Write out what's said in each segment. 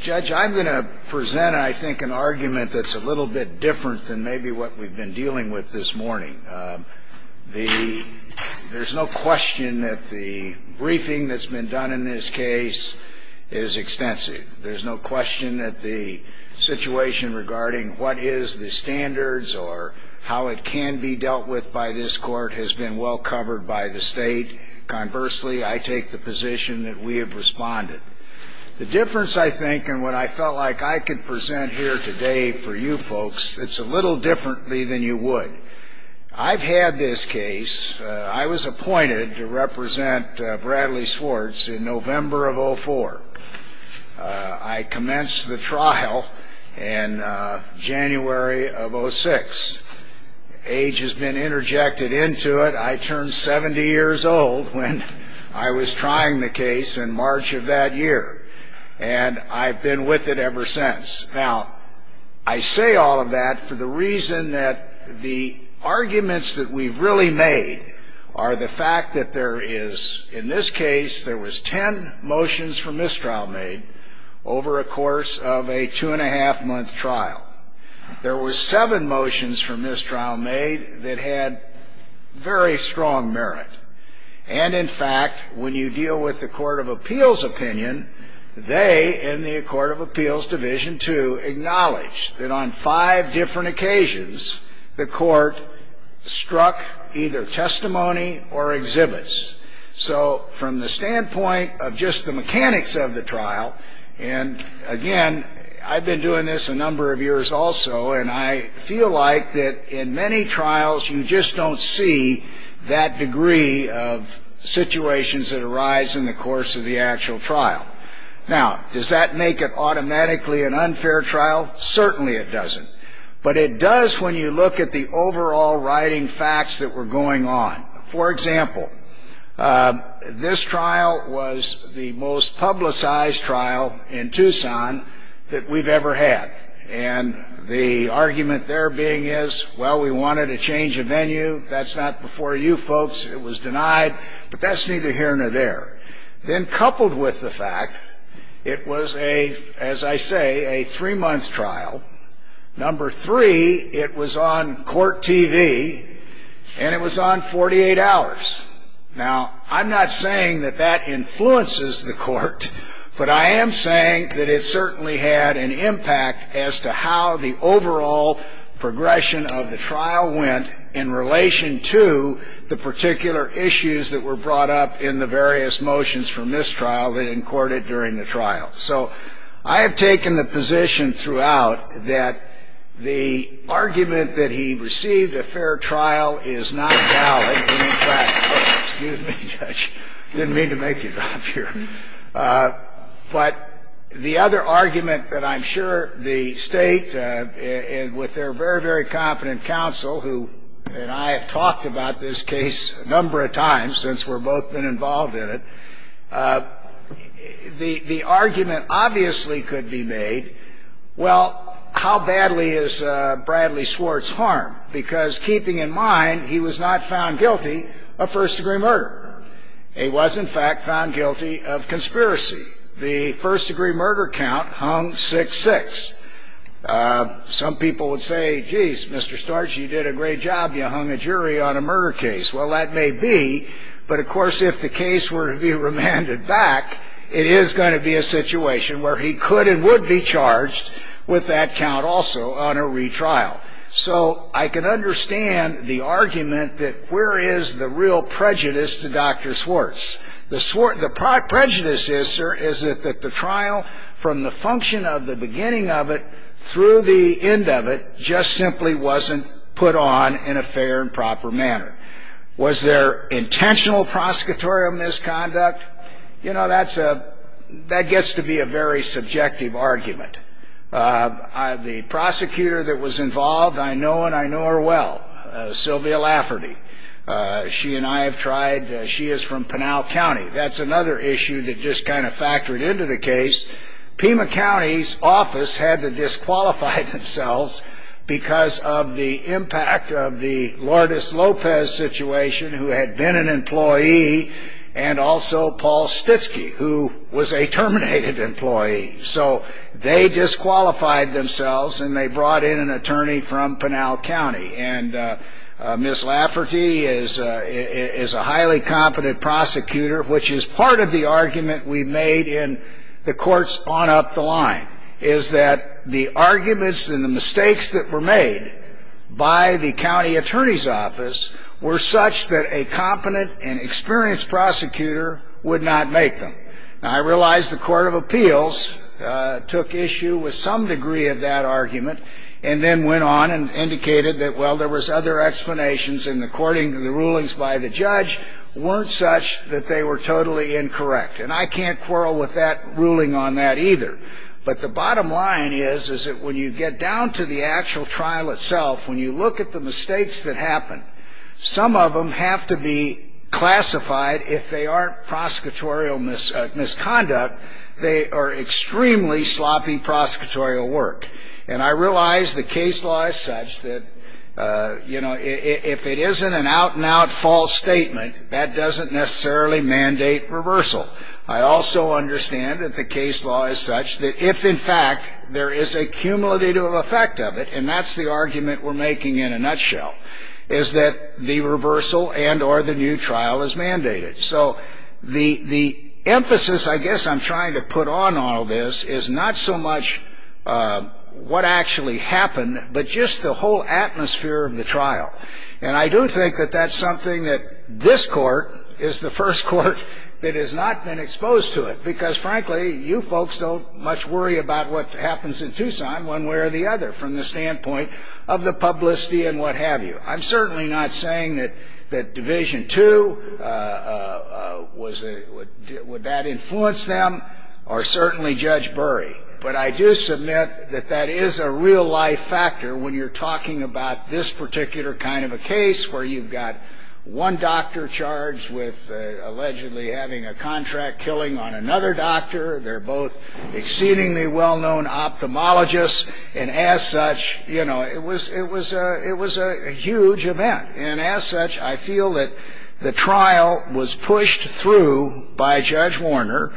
Judge, I'm going to present, I think, an argument that's a little bit different than maybe what we've been dealing with this morning. There's no question that the briefing that's been done in this case is extensive. There's no question that the situation regarding what is the standards or how it can be dealt with by this court has been well covered by the state. Conversely, I take the position that we have responded. The difference, I think, and what I felt like I could present here today for you folks, it's a little differently than you would. I've had this case. I was appointed to represent Bradley Schwartz in November of 2004. I commenced the trial in January of 2006. Age has been interjected into it. I turned 70 years old when I was trying the case in March of that year, and I've been with it ever since. Now, I say all of that for the reason that the arguments that we've really made are the fact that there is, in this case, there was 10 motions for mistrial made over a course of a two-and-a-half-month trial. There were seven motions for mistrial made that had very strong merit. And, in fact, when you deal with the Court of Appeals opinion, they, in the Court of Appeals Division II, acknowledge that on five different occasions, the court struck either testimony or exhibits. So from the standpoint of just the mechanics of the trial, and, again, I've been doing this a number of years also, and I feel like that in many trials you just don't see that degree of situations that arise in the course of the actual trial. Now, does that make it automatically an unfair trial? Certainly it doesn't. But it does when you look at the overall writing facts that were going on. For example, this trial was the most publicized trial in Tucson that we've ever had. And the argument there being is, well, we wanted a change of venue. That's not before you folks. It was denied. But that's neither here nor there. Then coupled with the fact, it was a, as I say, a three-month trial. Number three, it was on court TV, and it was on 48 hours. Now, I'm not saying that that influences the court. But I am saying that it certainly had an impact as to how the overall progression of the trial went in relation to the particular issues that were brought up in the various motions for mistrial that encoded during the trial. So I have taken the position throughout that the argument that he received a fair trial is not valid. In fact, excuse me, Judge. I didn't mean to make you drop here. But the other argument that I'm sure the State, with their very, very competent counsel, who and I have talked about this case a number of times since we've both been involved in it, the argument obviously could be made, well, how badly is Bradley Swartz harmed? Because keeping in mind, he was not found guilty of first-degree murder. He was, in fact, found guilty of conspiracy. The first-degree murder count hung 6-6. Some people would say, geez, Mr. Storch, you did a great job. You hung a jury on a murder case. Well, that may be. But, of course, if the case were to be remanded back, it is going to be a situation where he could and would be charged with that count also on a retrial. So I can understand the argument that where is the real prejudice to Dr. Swartz. The prejudice is, sir, is that the trial, from the function of the beginning of it through the end of it, just simply wasn't put on in a fair and proper manner. Was there intentional prosecutorial misconduct? You know, that gets to be a very subjective argument. The prosecutor that was involved, I know and I know her well, Sylvia Lafferty. She and I have tried. She is from Pinal County. That's another issue that just kind of factored into the case. Pima County's office had to disqualify themselves because of the impact of the Lourdes Lopez situation, who had been an employee, and also Paul Stitzky, who was a terminated employee. So they disqualified themselves, and they brought in an attorney from Pinal County. And Ms. Lafferty is a highly competent prosecutor, which is part of the argument we made in the courts on up the line, is that the arguments and the mistakes that were made by the county attorney's office were such that a competent and experienced prosecutor would not make them. Now, I realize the Court of Appeals took issue with some degree of that argument and then went on and indicated that, well, there was other explanations, and according to the rulings by the judge, weren't such that they were totally incorrect. And I can't quarrel with that ruling on that either. But the bottom line is, is that when you get down to the actual trial itself, when you look at the mistakes that happened, some of them have to be classified if they aren't prosecutorial misconduct. They are extremely sloppy prosecutorial work. And I realize the case law is such that, you know, if it isn't an out-and-out false statement, that doesn't necessarily mandate reversal. I also understand that the case law is such that if, in fact, there is a cumulative effect of it, and that's the argument we're making in a nutshell, is that the reversal and or the new trial is mandated. So the emphasis, I guess, I'm trying to put on all this is not so much what actually happened, but just the whole atmosphere of the trial. And I do think that that's something that this court is the first court that has not been exposed to it, because, frankly, you folks don't much worry about what happens in Tucson one way or the other from the standpoint of the publicity and what have you. I'm certainly not saying that Division II, would that influence them, or certainly Judge Burry. But I do submit that that is a real-life factor when you're talking about this particular kind of a case where you've got one doctor charged with allegedly having a contract killing on another doctor. They're both exceedingly well-known ophthalmologists. And as such, you know, it was a huge event. And as such, I feel that the trial was pushed through by Judge Warner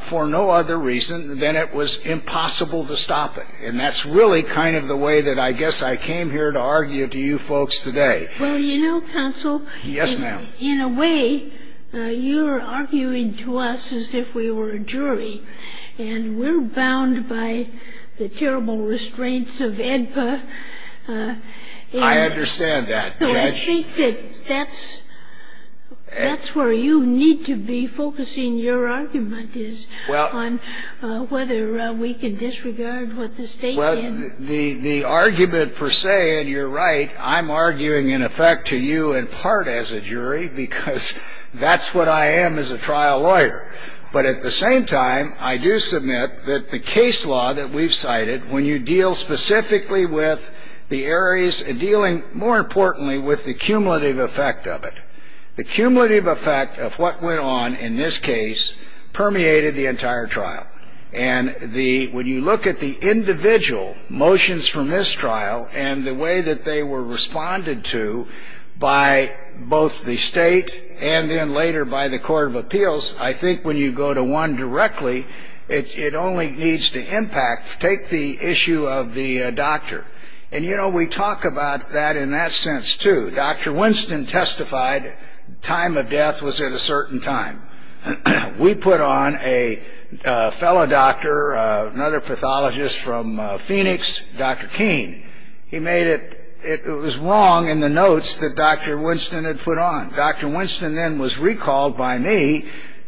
for no other reason than it was impossible to stop it. And that's really kind of the way that I guess I came here to argue to you folks today. Well, you know, counsel. Yes, ma'am. In a way, you're arguing to us as if we were a jury. And we're bound by the terrible restraints of AEDPA. I understand that, Judge. So I think that that's where you need to be focusing your argument is on whether we can disregard what the state did. The argument per se, and you're right, I'm arguing in effect to you in part as a jury because that's what I am as a trial lawyer. But at the same time, I do submit that the case law that we've cited, when you deal specifically with the areas and dealing more importantly with the cumulative effect of it, the cumulative effect of what went on in this case permeated the entire trial. And when you look at the individual motions from this trial and the way that they were responded to by both the state and then later by the Court of Appeals, I think when you go to one directly, it only needs to impact. Take the issue of the doctor. And, you know, we talk about that in that sense, too. Dr. Winston testified time of death was at a certain time. We put on a fellow doctor, another pathologist from Phoenix, Dr. Keene. He made it. It was wrong in the notes that Dr. Winston had put on. Dr. Winston then was recalled by me.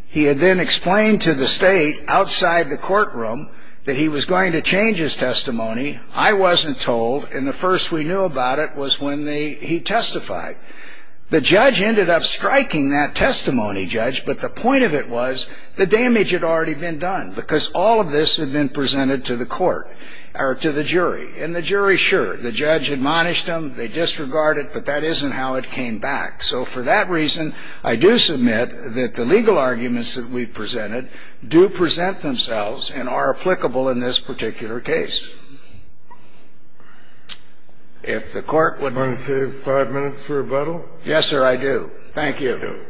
He had then explained to the state outside the courtroom that he was going to change his testimony. I wasn't told. And the first we knew about it was when he testified. The judge ended up striking that testimony, Judge, but the point of it was the damage had already been done because all of this had been presented to the court or to the jury. And the jury, sure, the judge admonished him. They disregarded it, but that isn't how it came back. So for that reason, I do submit that the legal arguments that we presented do present themselves and are applicable in this particular case. If the Court would... Do you want to save five minutes for rebuttal? Yes, sir, I do. Thank you. Thank you.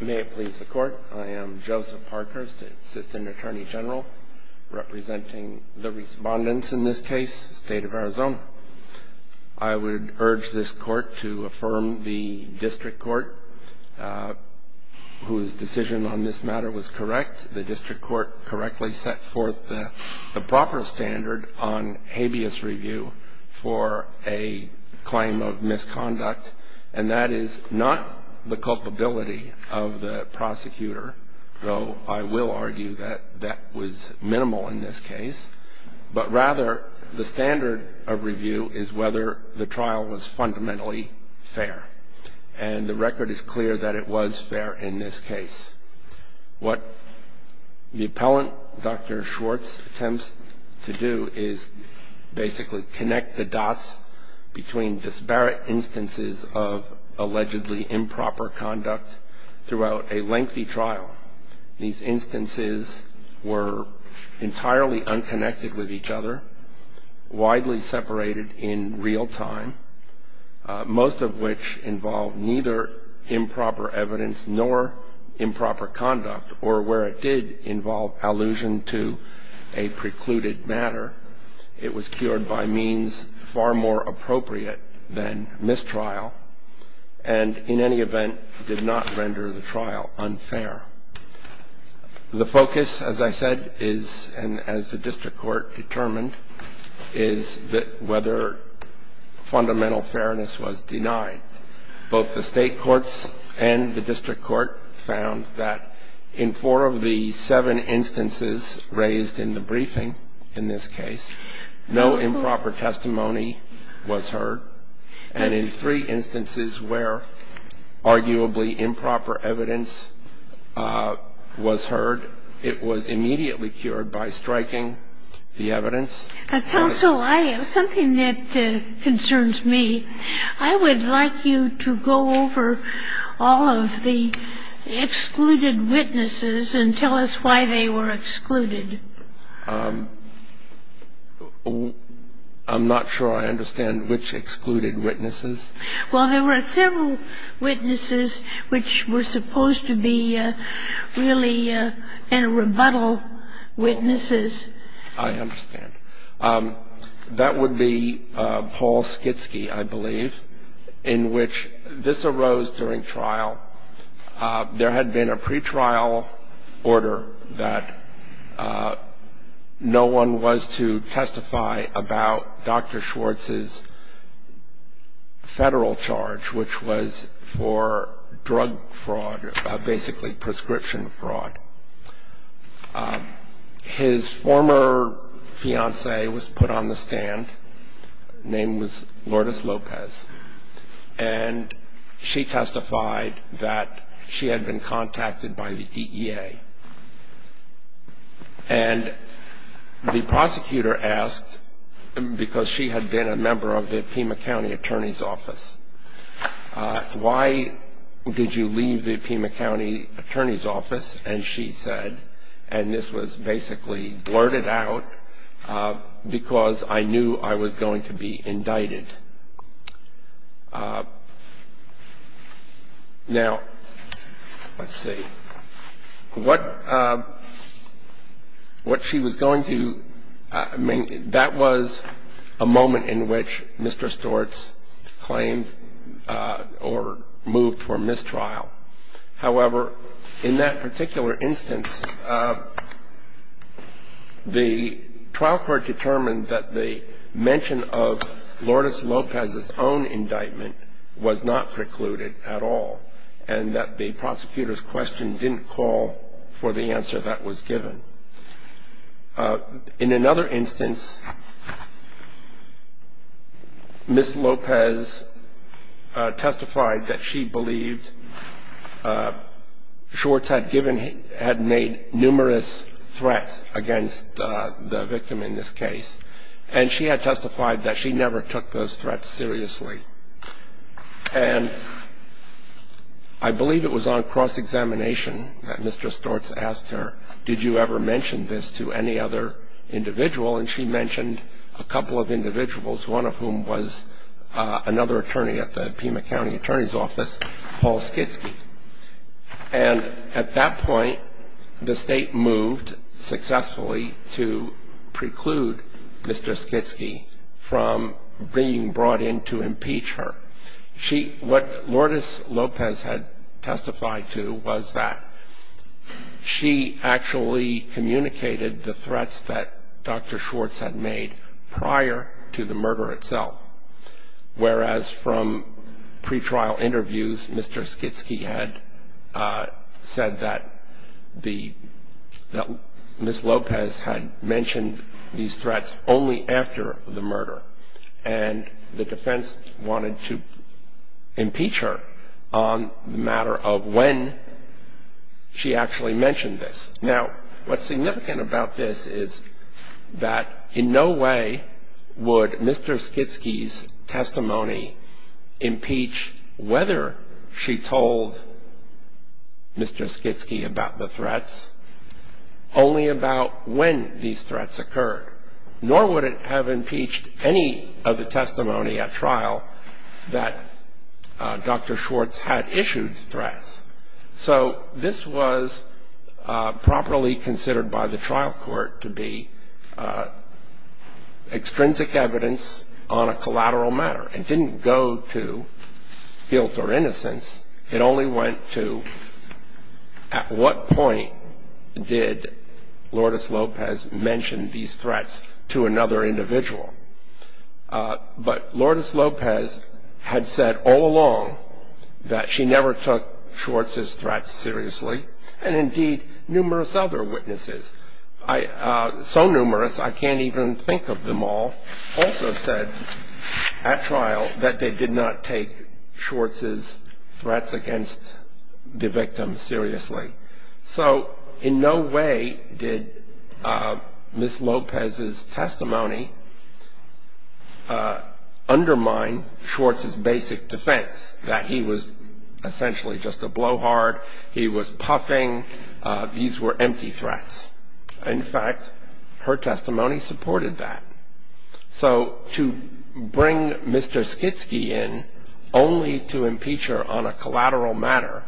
May it please the Court. I am Joseph Parkhurst, Assistant Attorney General, representing the Respondents in this case, State of Arizona. I would urge this Court to affirm the district court, whose decision on this matter was correct. The district court correctly set forth the proper standard on habeas review for a claim of misconduct, and that is not the culpability of the prosecutor, though I will argue that that was minimal in this case, but rather the standard of review is whether the trial was fundamentally fair. And the record is clear that it was fair in this case. What the appellant, Dr. Schwartz, attempts to do is basically connect the dots between disparate instances of allegedly improper conduct throughout a lengthy trial. These instances were entirely unconnected with each other, widely separated in real time, most of which involved neither improper evidence nor improper conduct, or where it did involve allusion to a precluded matter, it was cured by means far more appropriate than mistrial and in any event did not render the trial unfair. The focus, as I said, is, and as the district court determined, is that whether fundamental fairness was denied. Both the state courts and the district court found that in four of the seven instances raised in the briefing, in this case, no improper testimony was heard. And in three instances where arguably improper evidence was heard, it was immediately cured by striking the evidence. I have something that concerns me. I would like you to go over all of the excluded witnesses and tell us why they were excluded. I'm not sure I understand which excluded witnesses. Well, there were several witnesses which were supposed to be really in rebuttal witnesses. I understand. That would be Paul Skitsky, I believe, in which this arose during trial. There had been a pretrial order that no one was to testify about Dr. Schwartz's federal charge, which was for drug fraud, basically prescription fraud. His former fiancée was put on the stand. Her name was Lourdes Lopez. And she testified that she had been contacted by the EEA. And the prosecutor asked, because she had been a member of the Pima County Attorney's Office, why did you leave the Pima County Attorney's Office? And she said, and this was basically blurted out, because I knew I was going to be indicted. Now, let's see. What she was going to do, I mean, that was a moment in which Mr. Schwartz claimed or moved from this trial. However, in that particular instance, the trial court determined that the mention of Lourdes Lopez's own indictment was not precluded at all and that the prosecutor's question didn't call for the answer that was given. In another instance, Ms. Lopez testified that she believed Schwartz had made numerous threats against the victim in this case. And she had testified that she never took those threats seriously. And I believe it was on cross-examination that Mr. Schwartz asked her, did you ever mention this to any other individual? And she mentioned a couple of individuals, one of whom was another attorney at the Pima County Attorney's Office, Paul Skitsky. And at that point, the state moved successfully to preclude Mr. Skitsky from being brought in to impeach her. What Lourdes Lopez had testified to was that she actually communicated the threats that Dr. Schwartz had made prior to the murder itself. Whereas from pretrial interviews, Mr. Skitsky had said that Ms. Lopez had mentioned these threats only after the murder. And the defense wanted to impeach her on the matter of when she actually mentioned this. Now, what's significant about this is that in no way would Mr. Skitsky's testimony impeach whether she told Mr. Skitsky about the threats only about when these threats occurred. Nor would it have impeached any of the testimony at trial that Dr. Schwartz had issued threats. So this was properly considered by the trial court to be extrinsic evidence on a collateral matter. It didn't go to guilt or innocence. It only went to at what point did Lourdes Lopez mention these threats to another individual. But Lourdes Lopez had said all along that she never took Schwartz's threats seriously, and indeed numerous other witnesses, so numerous I can't even think of them all, also said at trial that they did not take Schwartz's threats against the victim seriously. So in no way did Ms. Lopez's testimony undermine Schwartz's basic defense that he was essentially just a blowhard, he was puffing, these were empty threats. In fact, her testimony supported that. So to bring Mr. Skitsky in only to impeach her on a collateral matter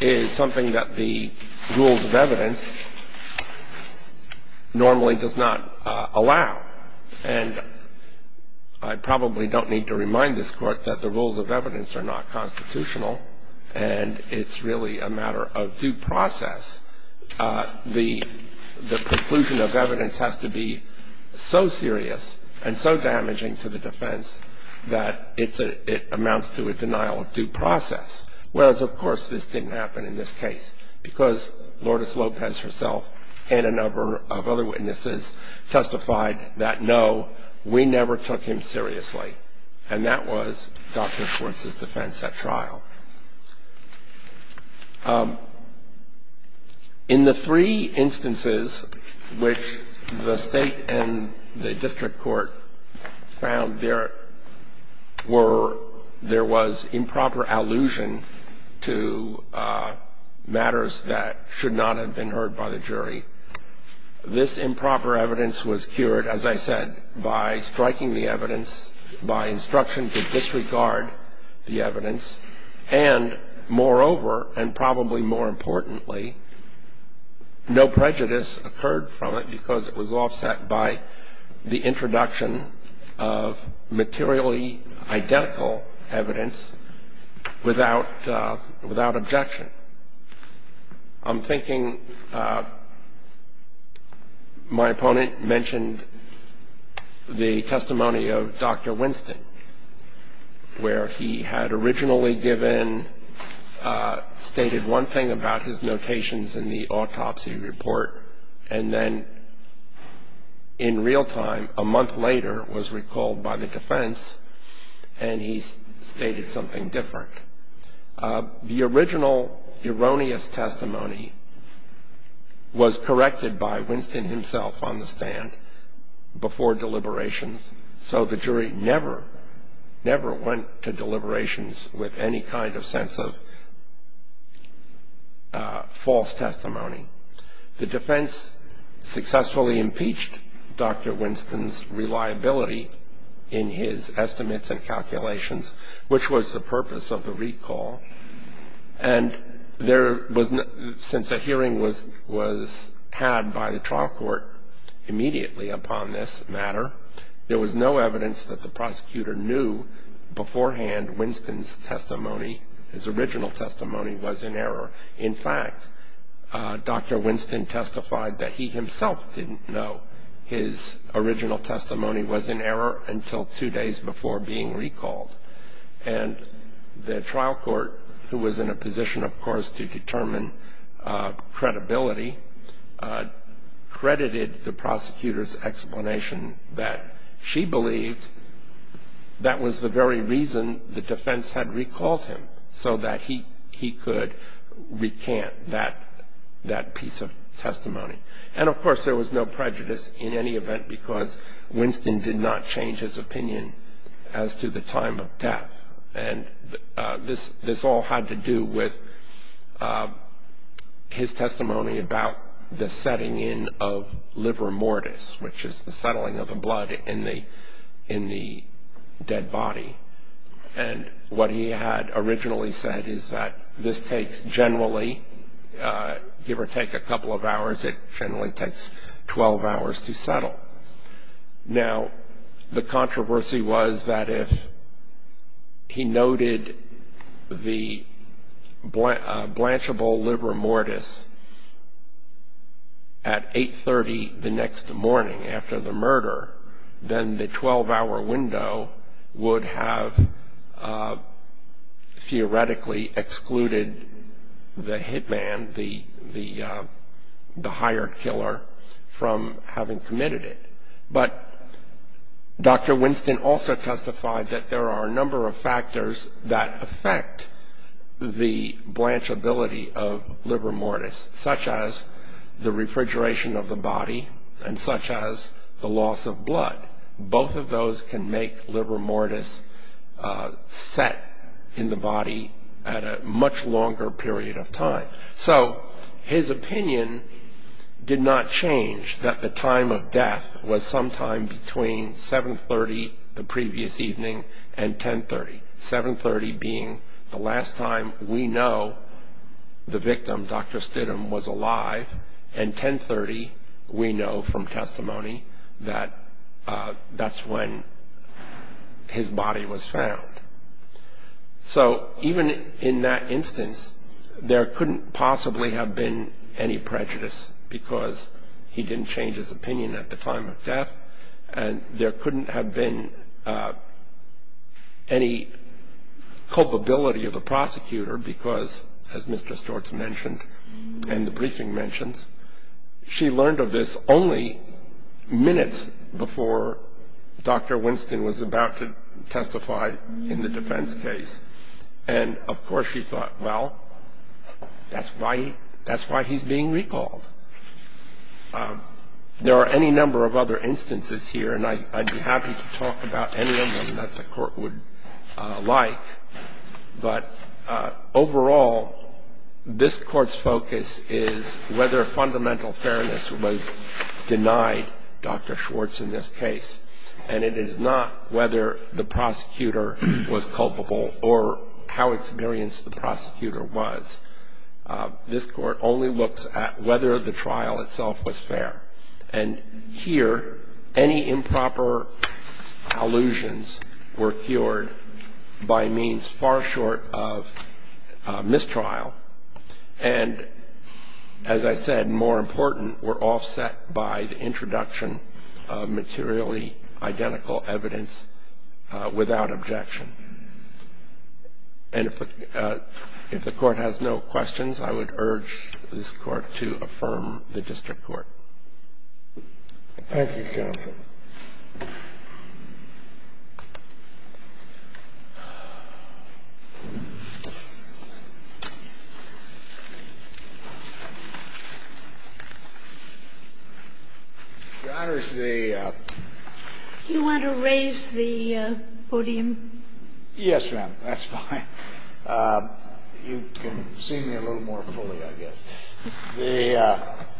is something that the rules of evidence normally does not allow. And I probably don't need to remind this Court that the rules of evidence are not constitutional and it's really a matter of due process. The conclusion of evidence has to be so serious and so damaging to the defense that it amounts to a denial of due process. Whereas of course this didn't happen in this case because Lourdes Lopez herself and a number of other witnesses testified that no, we never took him seriously, and that was Dr. Schwartz's defense at trial. In the three instances which the State and the District Court found there was improper allusion to matters that should not have been heard by the jury, this improper evidence was cured, as I said, by striking the evidence, by instruction to disregard the evidence. And moreover, and probably more importantly, no prejudice occurred from it because it was offset by the introduction of materially identical evidence without objection. I'm thinking my opponent mentioned the testimony of Dr. Winston where he had originally given, stated one thing about his notations in the autopsy report and then in real time, a month later, was recalled by the defense and he stated something different. The original erroneous testimony was corrected by Winston himself on the stand before deliberations, so the jury never, never went to deliberations with any kind of sense of false testimony. The defense successfully impeached Dr. Winston's reliability in his estimates and calculations, which was the purpose of the recall. And since a hearing was had by the trial court immediately upon this matter, there was no evidence that the prosecutor knew beforehand Winston's testimony, his original testimony, was in error. In fact, Dr. Winston testified that he himself didn't know his original testimony was in error until two days before being recalled. And the trial court, who was in a position, of course, to determine credibility, credited the prosecutor's explanation that she believed that was the very reason the defense had recalled him so that he could recant that piece of testimony. And, of course, there was no prejudice in any event because Winston did not change his opinion as to the time of death. And this all had to do with his testimony about the setting in of liver mortis, which is the settling of the blood in the dead body. And what he had originally said is that this takes generally, give or take a couple of hours, it generally takes 12 hours to settle. Now, the controversy was that if he noted the blanchable liver mortis at 8.30 the next morning after the murder, then the 12-hour window would have theoretically excluded the hit man, the hired killer, from having committed it. But Dr. Winston also testified that there are a number of factors that affect the blanchability of liver mortis, such as the refrigeration of the body and such as the loss of blood. Both of those can make liver mortis set in the body at a much longer period of time. So his opinion did not change that the time of death was sometime between 7.30 the previous evening and 10.30, 7.30 being the last time we know the victim, Dr. Stidham, was alive, and 10.30 we know from testimony that that's when his body was found. So even in that instance, there couldn't possibly have been any prejudice because he didn't change his opinion at the time of death, and there couldn't have been any culpability of the prosecutor because, as Mr. Stortz mentioned and the briefing mentions, she learned of this only minutes before Dr. Winston was about to testify in the defense case. And, of course, she thought, well, that's why he's being recalled. There are any number of other instances here, and I'd be happy to talk about any of them that the Court would like. But overall, this Court's focus is whether fundamental fairness was denied Dr. Schwartz in this case, and it is not whether the prosecutor was culpable or how experienced the prosecutor was. This Court only looks at whether the trial itself was fair, and here any improper allusions were cured by means far short of mistrial and, as I said, more important, were offset by the introduction of materially identical evidence without objection. And if the Court has no questions, I would urge this Court to affirm the district court. Thank you. Your Honors, the ---- Do you want to raise the podium? Yes, ma'am. That's fine. You can see me a little more fully, I guess. The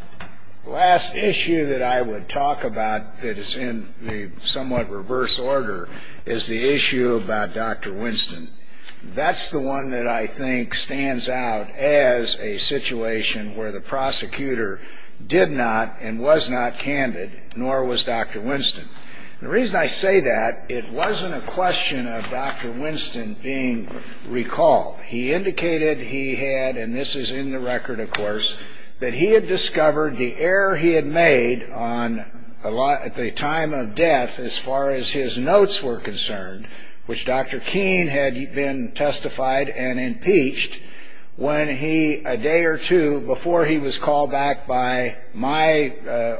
last issue that I would talk about that is in the somewhat reverse order is the issue about Dr. Winston. That's the one that I think stands out as a situation where the prosecutor did not and was not candid, nor was Dr. Winston. The reason I say that, it wasn't a question of Dr. Winston being recalled. He indicated he had, and this is in the record, of course, that he had discovered the error he had made at the time of death as far as his notes were concerned, which Dr. Keene had been testified and impeached a day or two before he was called back by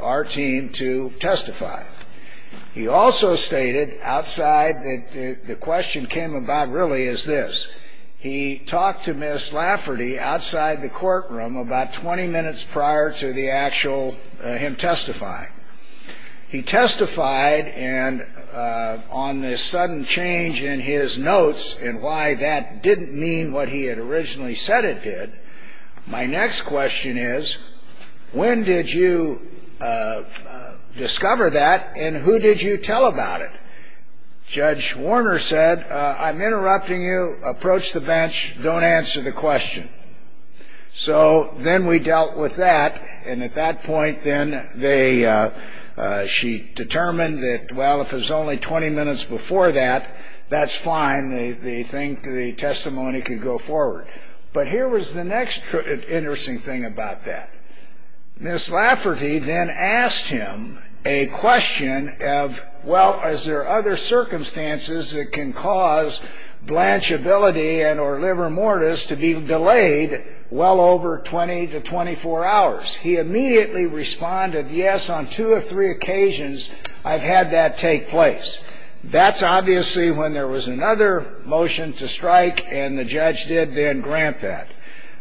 our team to testify. He also stated outside that the question came about really is this. He talked to Ms. Lafferty outside the courtroom about 20 minutes prior to him testifying. He testified, and on this sudden change in his notes and why that didn't mean what he had originally said it did, my next question is, when did you discover that and who did you tell about it? Judge Warner said, I'm interrupting you. Approach the bench. Don't answer the question. So then we dealt with that. And at that point, then, she determined that, well, if it was only 20 minutes before that, that's fine. They think the testimony could go forward. But here was the next interesting thing about that. Ms. Lafferty then asked him a question of, well, is there other circumstances that can cause blanchability and or liver mortis to be delayed well over 20 to 24 hours? He immediately responded, yes, on two or three occasions I've had that take place. That's obviously when there was another motion to strike, and the judge did then grant that.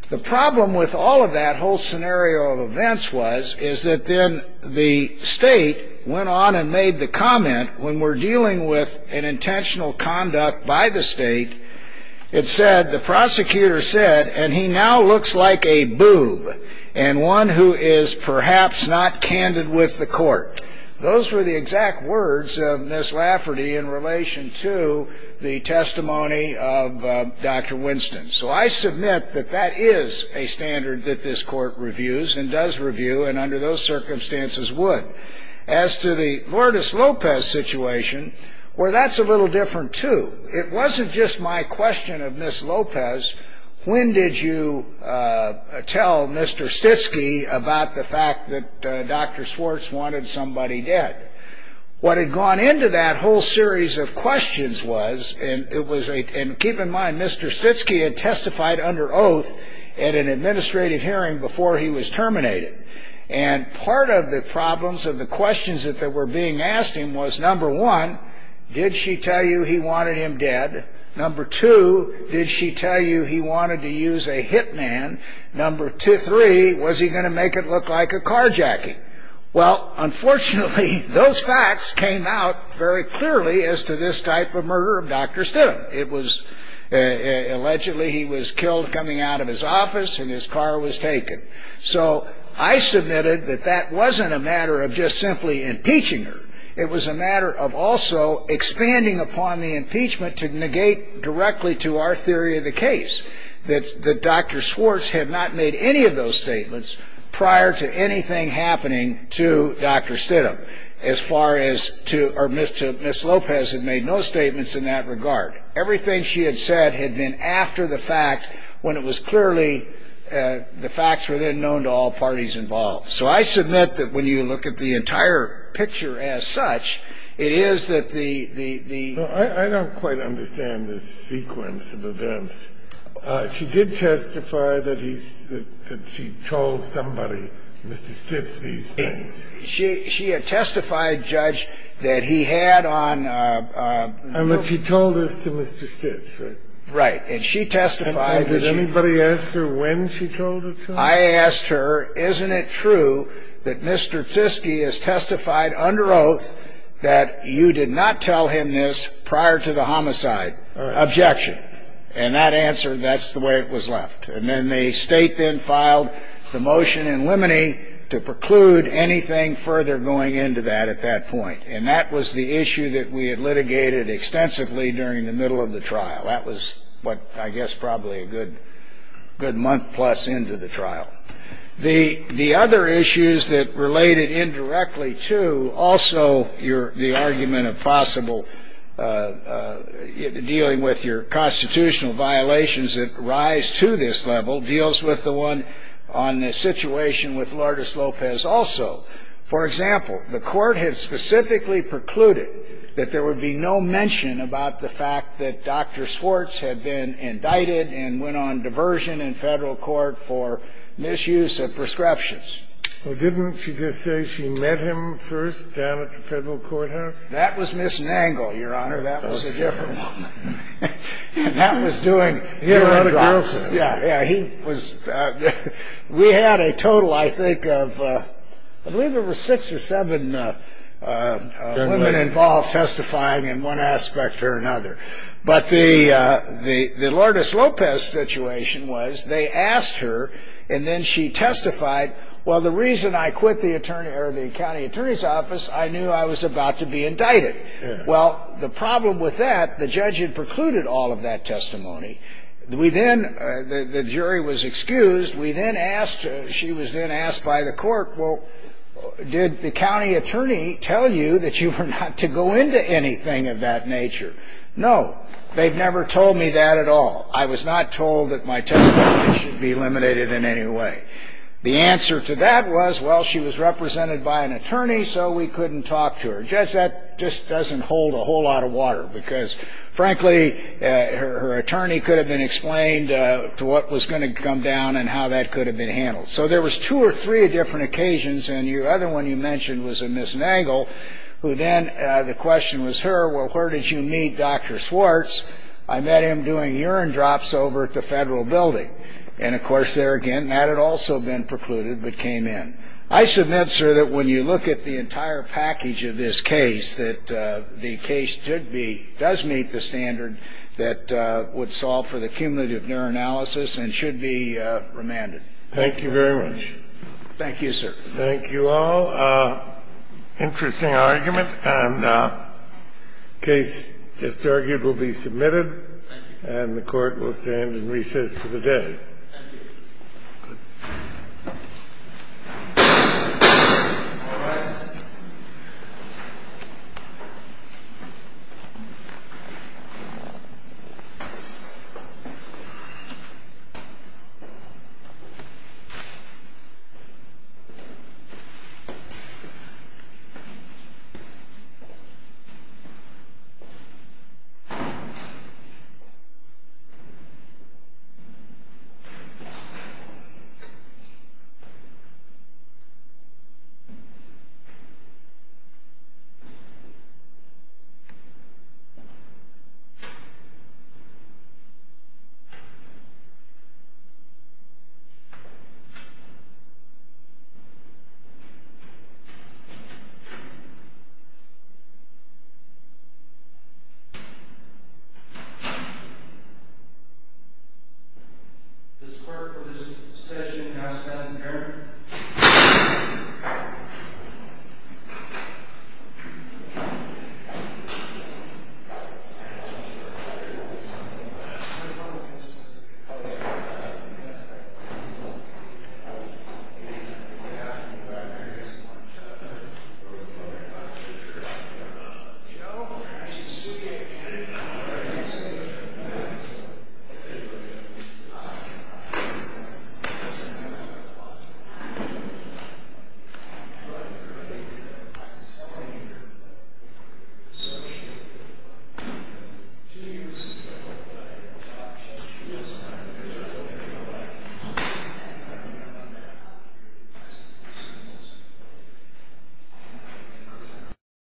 The problem with all of that whole scenario of events was is that then the State went on and made the comment, when we're dealing with an intentional conduct by the State, it said, the prosecutor said, and he now looks like a boob and one who is perhaps not candid with the court. Those were the exact words of Ms. Lafferty in relation to the testimony of Dr. Winston. So I submit that that is a standard that this court reviews and does review, and under those circumstances would. As to the Lourdes Lopez situation, well, that's a little different, too. It wasn't just my question of Ms. Lopez, when did you tell Mr. Stitsky about the fact that Dr. Swartz wanted somebody dead? What had gone into that whole series of questions was, and keep in mind, Mr. Stitsky had testified under oath at an administrative hearing before he was terminated, and part of the problems of the questions that were being asked him was, number one, did she tell you he wanted him dead? Number two, did she tell you he wanted to use a hitman? Number three, was he going to make it look like a carjacking? Well, unfortunately, those facts came out very clearly as to this type of murder of Dr. Stittum. It was allegedly he was killed coming out of his office and his car was taken. So I submitted that that wasn't a matter of just simply impeaching her. It was a matter of also expanding upon the impeachment to negate directly to our theory of the case that Dr. Swartz had not made any of those statements prior to anything happening to Dr. Stittum, as far as to Ms. Lopez had made no statements in that regard. Everything she had said had been after the fact when it was clearly the facts were then known to all parties involved. So I submit that when you look at the entire picture as such, it is that the ‑‑ She did testify that he ‑‑ that she told somebody, Mr. Stitts, these things. She had testified, Judge, that he had on ‑‑ And that she told this to Mr. Stitts, right? Right. And she testified that she ‑‑ And did anybody ask her when she told it to him? I asked her, isn't it true that Mr. Tsitsky has testified under oath that you did not tell him this prior to the homicide? Objection. And that answer, that's the way it was left. And then the state then filed the motion in limine to preclude anything further going into that at that point. And that was the issue that we had litigated extensively during the middle of the trial. That was what, I guess, probably a good month plus into the trial. The other issues that related indirectly to also your ‑‑ the argument of possible dealing with your constitutional violations that rise to this level deals with the one on the situation with Lourdes Lopez also. For example, the Court had specifically precluded that there would be no mention about the fact that Dr. Swartz had been indicted and went on diversion in federal court for misuse of prescriptions. Well, didn't she just say she met him first down at the federal courthouse? That was Ms. Nangle, Your Honor. That was a different woman. And that was doing ‑‑ A lot of girls. Yeah, yeah. He was ‑‑ we had a total, I think, of I believe it was six or seven women involved testifying in one aspect or another. But the Lourdes Lopez situation was they asked her, and then she testified, well, the reason I quit the attorney ‑‑ or the county attorney's office, I knew I was about to be indicted. Well, the problem with that, the judge had precluded all of that testimony. We then ‑‑ the jury was excused. We then asked ‑‑ she was then asked by the court, well, did the county attorney tell you that you were not to go into anything of that nature? No. They've never told me that at all. I was not told that my testimony should be eliminated in any way. The answer to that was, well, she was represented by an attorney, so we couldn't talk to her. Judge, that just doesn't hold a whole lot of water because, frankly, her attorney could have been explained to what was going to come down and how that could have been handled. So there was two or three different occasions. And the other one you mentioned was of Ms. Nagle, who then the question was her, well, where did you meet Dr. Swartz? I met him doing urine drops over at the federal building. And, of course, there again, that had also been precluded but came in. I submit, sir, that when you look at the entire package of this case, that the case does meet the standard that would solve for the cumulative neuroanalysis and should be remanded. Thank you very much. Thank you, sir. Thank you all. Interesting argument. And the case just argued will be submitted. Thank you. And the Court will stand in recess for the day. Thank you. Good. All rise. This court for this session is adjourned. This court is adjourned. Thank you.